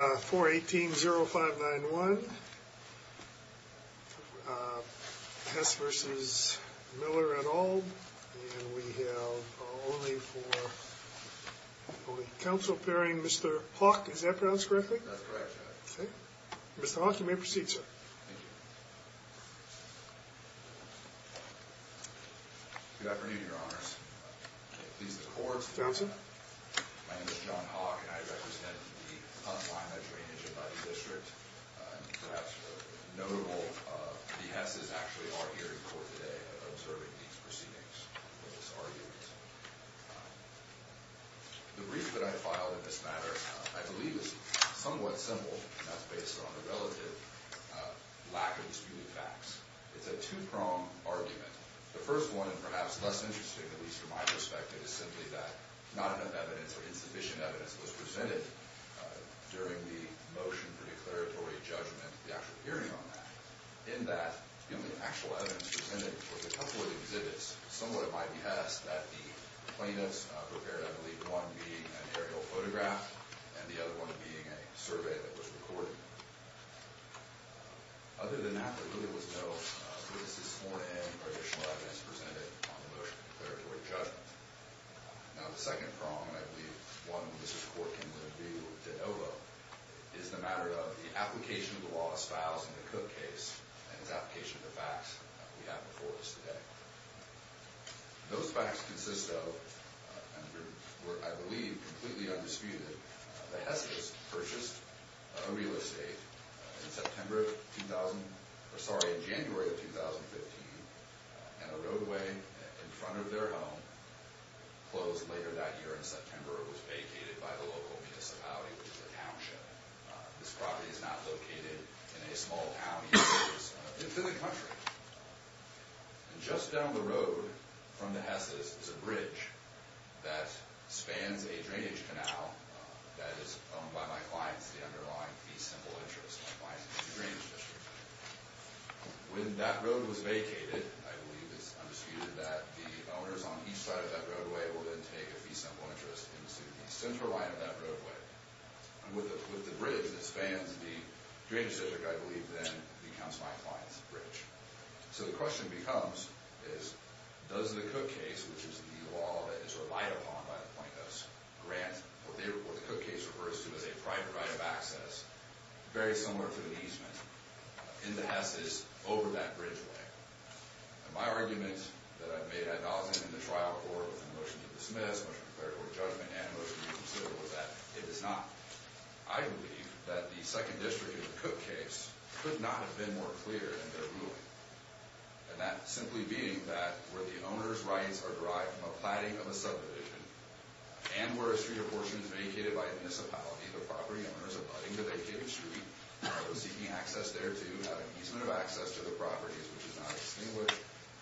418.059.1 Hess v. Miller et al, and we have only for Council Pairing Mr. Hawk, is that pronounced correctly? That's correct. Okay. Mr. Hawk, you may proceed, sir. Thank you. Good afternoon, Your Honors. Please the courts. Counsel. My name is John Hawk, and I represent the Hunt-Lima Drainage and Levee District. And perhaps the notable behests actually are here in court today observing these proceedings, these arguments. The brief that I filed in this matter, I believe, is somewhat simple, and that's based on the relative lack of disputed facts. It's a two-prong argument. The first one, and perhaps less interesting, at least from my perspective, is simply that not enough evidence or insufficient evidence was presented during the motion for declaratory judgment, the actual hearing on that, in that the only actual evidence presented was a couple of exhibits, somewhat at my behest, that the plaintiffs prepared, I believe, one being an aerial photograph and the other one being a survey that was recorded. Other than that, there really was no witnesses sworn in or additional evidence presented on the motion for declaratory judgment. Now, the second prong, and I believe one Mr. Corkin wouldn't be able to overlook, is the matter of the application of the law as filed in the Cook case and its application of the facts that we have before us today. Those facts consist of, and were, I believe, completely undisputed, the Hespiths purchased a real estate in January of 2015, and a roadway in front of their home closed later that year in September. It was vacated by the local municipality, which is a township. This property is not located in a small town. It's in the country. And just down the road from the Hespiths is a bridge that spans a drainage canal that is owned by my clients, the underlying fee-simple interest of my clients in the drainage district. When that road was vacated, I believe it's undisputed that the owners on each side of that roadway will then take a fee-simple interest into the central line of that roadway. And with the bridge that spans the drainage district, I believe, then becomes my client's bridge. So the question becomes is, does the Cook case, which is the law that is relied upon by the plaintiffs, grant what the Cook case refers to as a private right of access, very similar to an easement, in the Hespiths, over that bridgeway? And my argument that I've made ad nauseum in the trial court with the motion to dismiss, as much compared to what judgment and motion to consider, was that it is not. I believe that the Second District in the Cook case could not have been more clear in their ruling. And that simply being that where the owner's rights are derived from a platting of a subdivision and where a street or portion is vacated by a municipality, the property owners abutting the vacated street are seeking access thereto, have an easement of access to the properties, which is not extinguished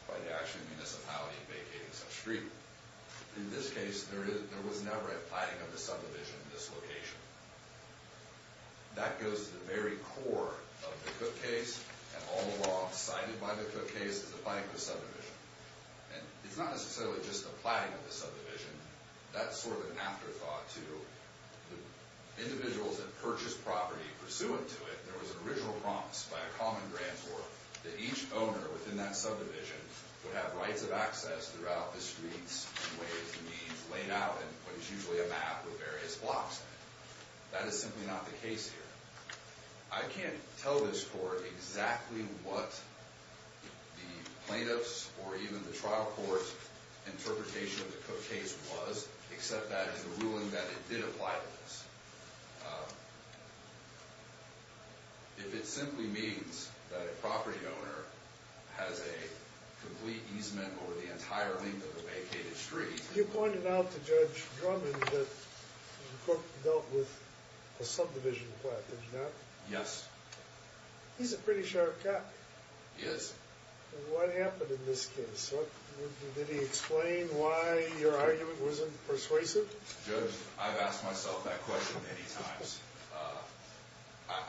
by the actual municipality vacating such street. In this case, there was never a platting of the subdivision in this location. That goes to the very core of the Cook case. And all the law cited by the Cook case is the platting of the subdivision. And it's not necessarily just the platting of the subdivision. That's sort of an afterthought to the individuals that purchased property pursuant to it. There was an original promise by a common grantor that each owner within that subdivision would have rights of access throughout the streets in ways and means laid out in what is usually a map with various blocks in it. That is simply not the case here. I can't tell this court exactly what the plaintiff's or even the trial court's interpretation of the Cook case was, except that it's a ruling that it did apply to this. If it simply means that a property owner has a complete easement over the entire length of the vacated street... You pointed out to Judge Drummond that the Cook dealt with a subdivision plot, did you not? Yes. He's a pretty sharp guy. He is. What happened in this case? Did he explain why your argument wasn't persuasive? Judge, I've asked myself that question many times.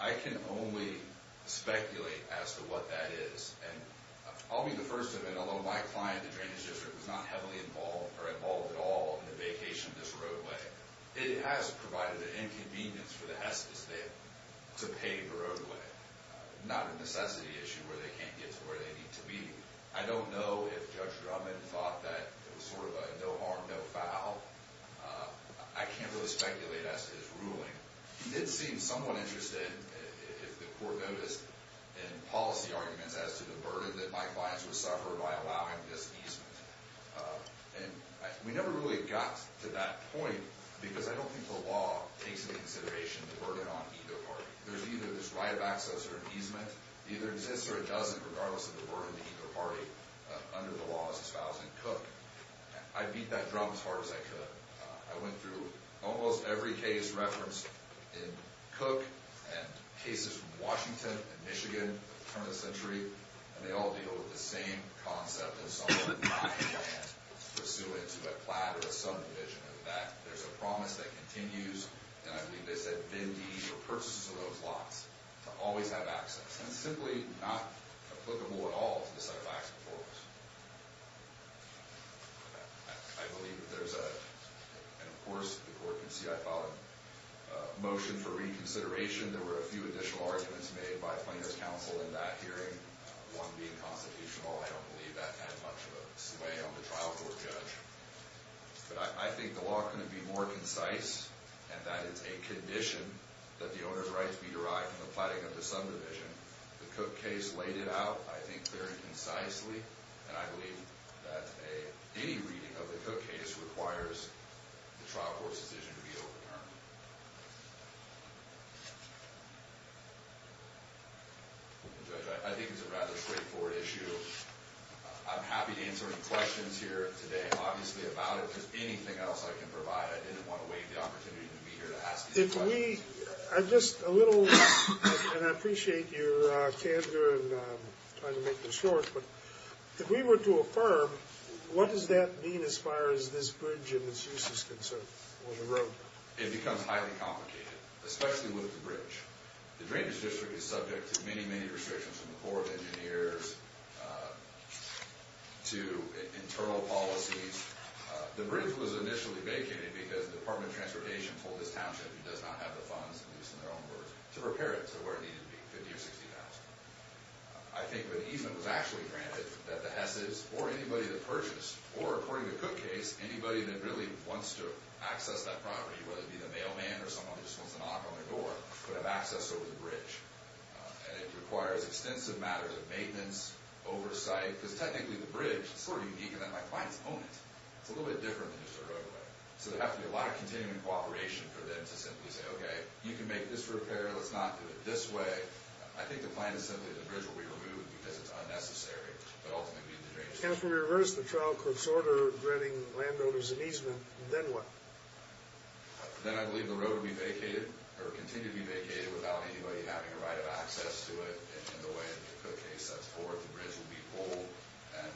I can only speculate as to what that is. And I'll be the first to admit, although my client, the drainage district, was not heavily involved or involved at all in the vacation of this roadway, it has provided an inconvenience for the Hestas to pay the roadway, not a necessity issue where they can't get to where they need to be. I don't know if Judge Drummond thought that it was sort of a no harm, no foul. I can't really speculate as to his ruling. He did seem somewhat interested, if the court noticed, in policy arguments as to the burden that my clients would suffer by allowing this easement. And we never really got to that point because I don't think the law takes into consideration the burden on either party. There's either this right of access or an easement. It either exists or it doesn't, regardless of the burden to either party under the law as espoused in Cook. I beat that drum as hard as I could. I went through almost every case referenced in Cook and cases from Washington and Michigan at the turn of the century, and they all deal with the same concept in some way that I can't pursue into a platter of some division of that. There's a promise that continues, and I believe they said bid deeds or purchases of those lots to always have access. And it's simply not applicable at all to the set of acts before us. I believe that there's a – and, of course, the court can see I filed a motion for reconsideration. There were a few additional arguments made by plaintiff's counsel in that hearing, one being constitutional. I don't believe that had much of a sway on the trial for a judge. But I think the law couldn't be more concise and that it's a condition that the owner's rights be derived from the platter of some division. The Cook case laid it out, I think, very concisely, and I believe that any reading of the Cook case requires the trial court's decision to be overturned. I think it's a rather straightforward issue. I'm happy to answer any questions here today, obviously, about it. If there's anything else I can provide, I didn't want to waive the opportunity to be here to ask these questions. If we – I'm just a little – and I appreciate your candor in trying to make this short, but if we were to affirm, what does that mean as far as this bridge and its use is concerned on the road? The drainage district is subject to many, many restrictions from the Corps of Engineers to internal policies. The bridge was initially vacated because the Department of Transportation told this township it does not have the funds, at least in their own words, to repair it to where it needed to be, $50,000 or $60,000. I think the easement was actually granted that the Hesses, or anybody that purchased, or according to the Cook case, anybody that really wants to access that property, whether it be the mailman or someone who just wants to knock on their door, could have access over the bridge. And it requires extensive matters of maintenance, oversight, because technically the bridge is sort of unique in that my clients own it. It's a little bit different than just a roadway. So there'd have to be a lot of continuing cooperation for them to simply say, okay, you can make this repair, let's not do it this way. I think the plan is simply the bridge will be removed because it's unnecessary, but ultimately the drainage district. And if we reverse the trial court's order granting landowners an easement, then what? Then I believe the road will be vacated, or continue to be vacated, without anybody having a right of access to it. And in the way that the Cook case sets forth, the bridge will be pulled, and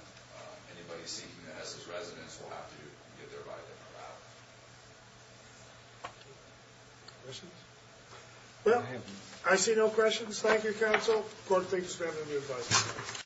anybody seeking the Hesses residence will have to get their right to come out. Questions? Well, I see no questions. Thank you, counsel. Court, thank you for spending your time.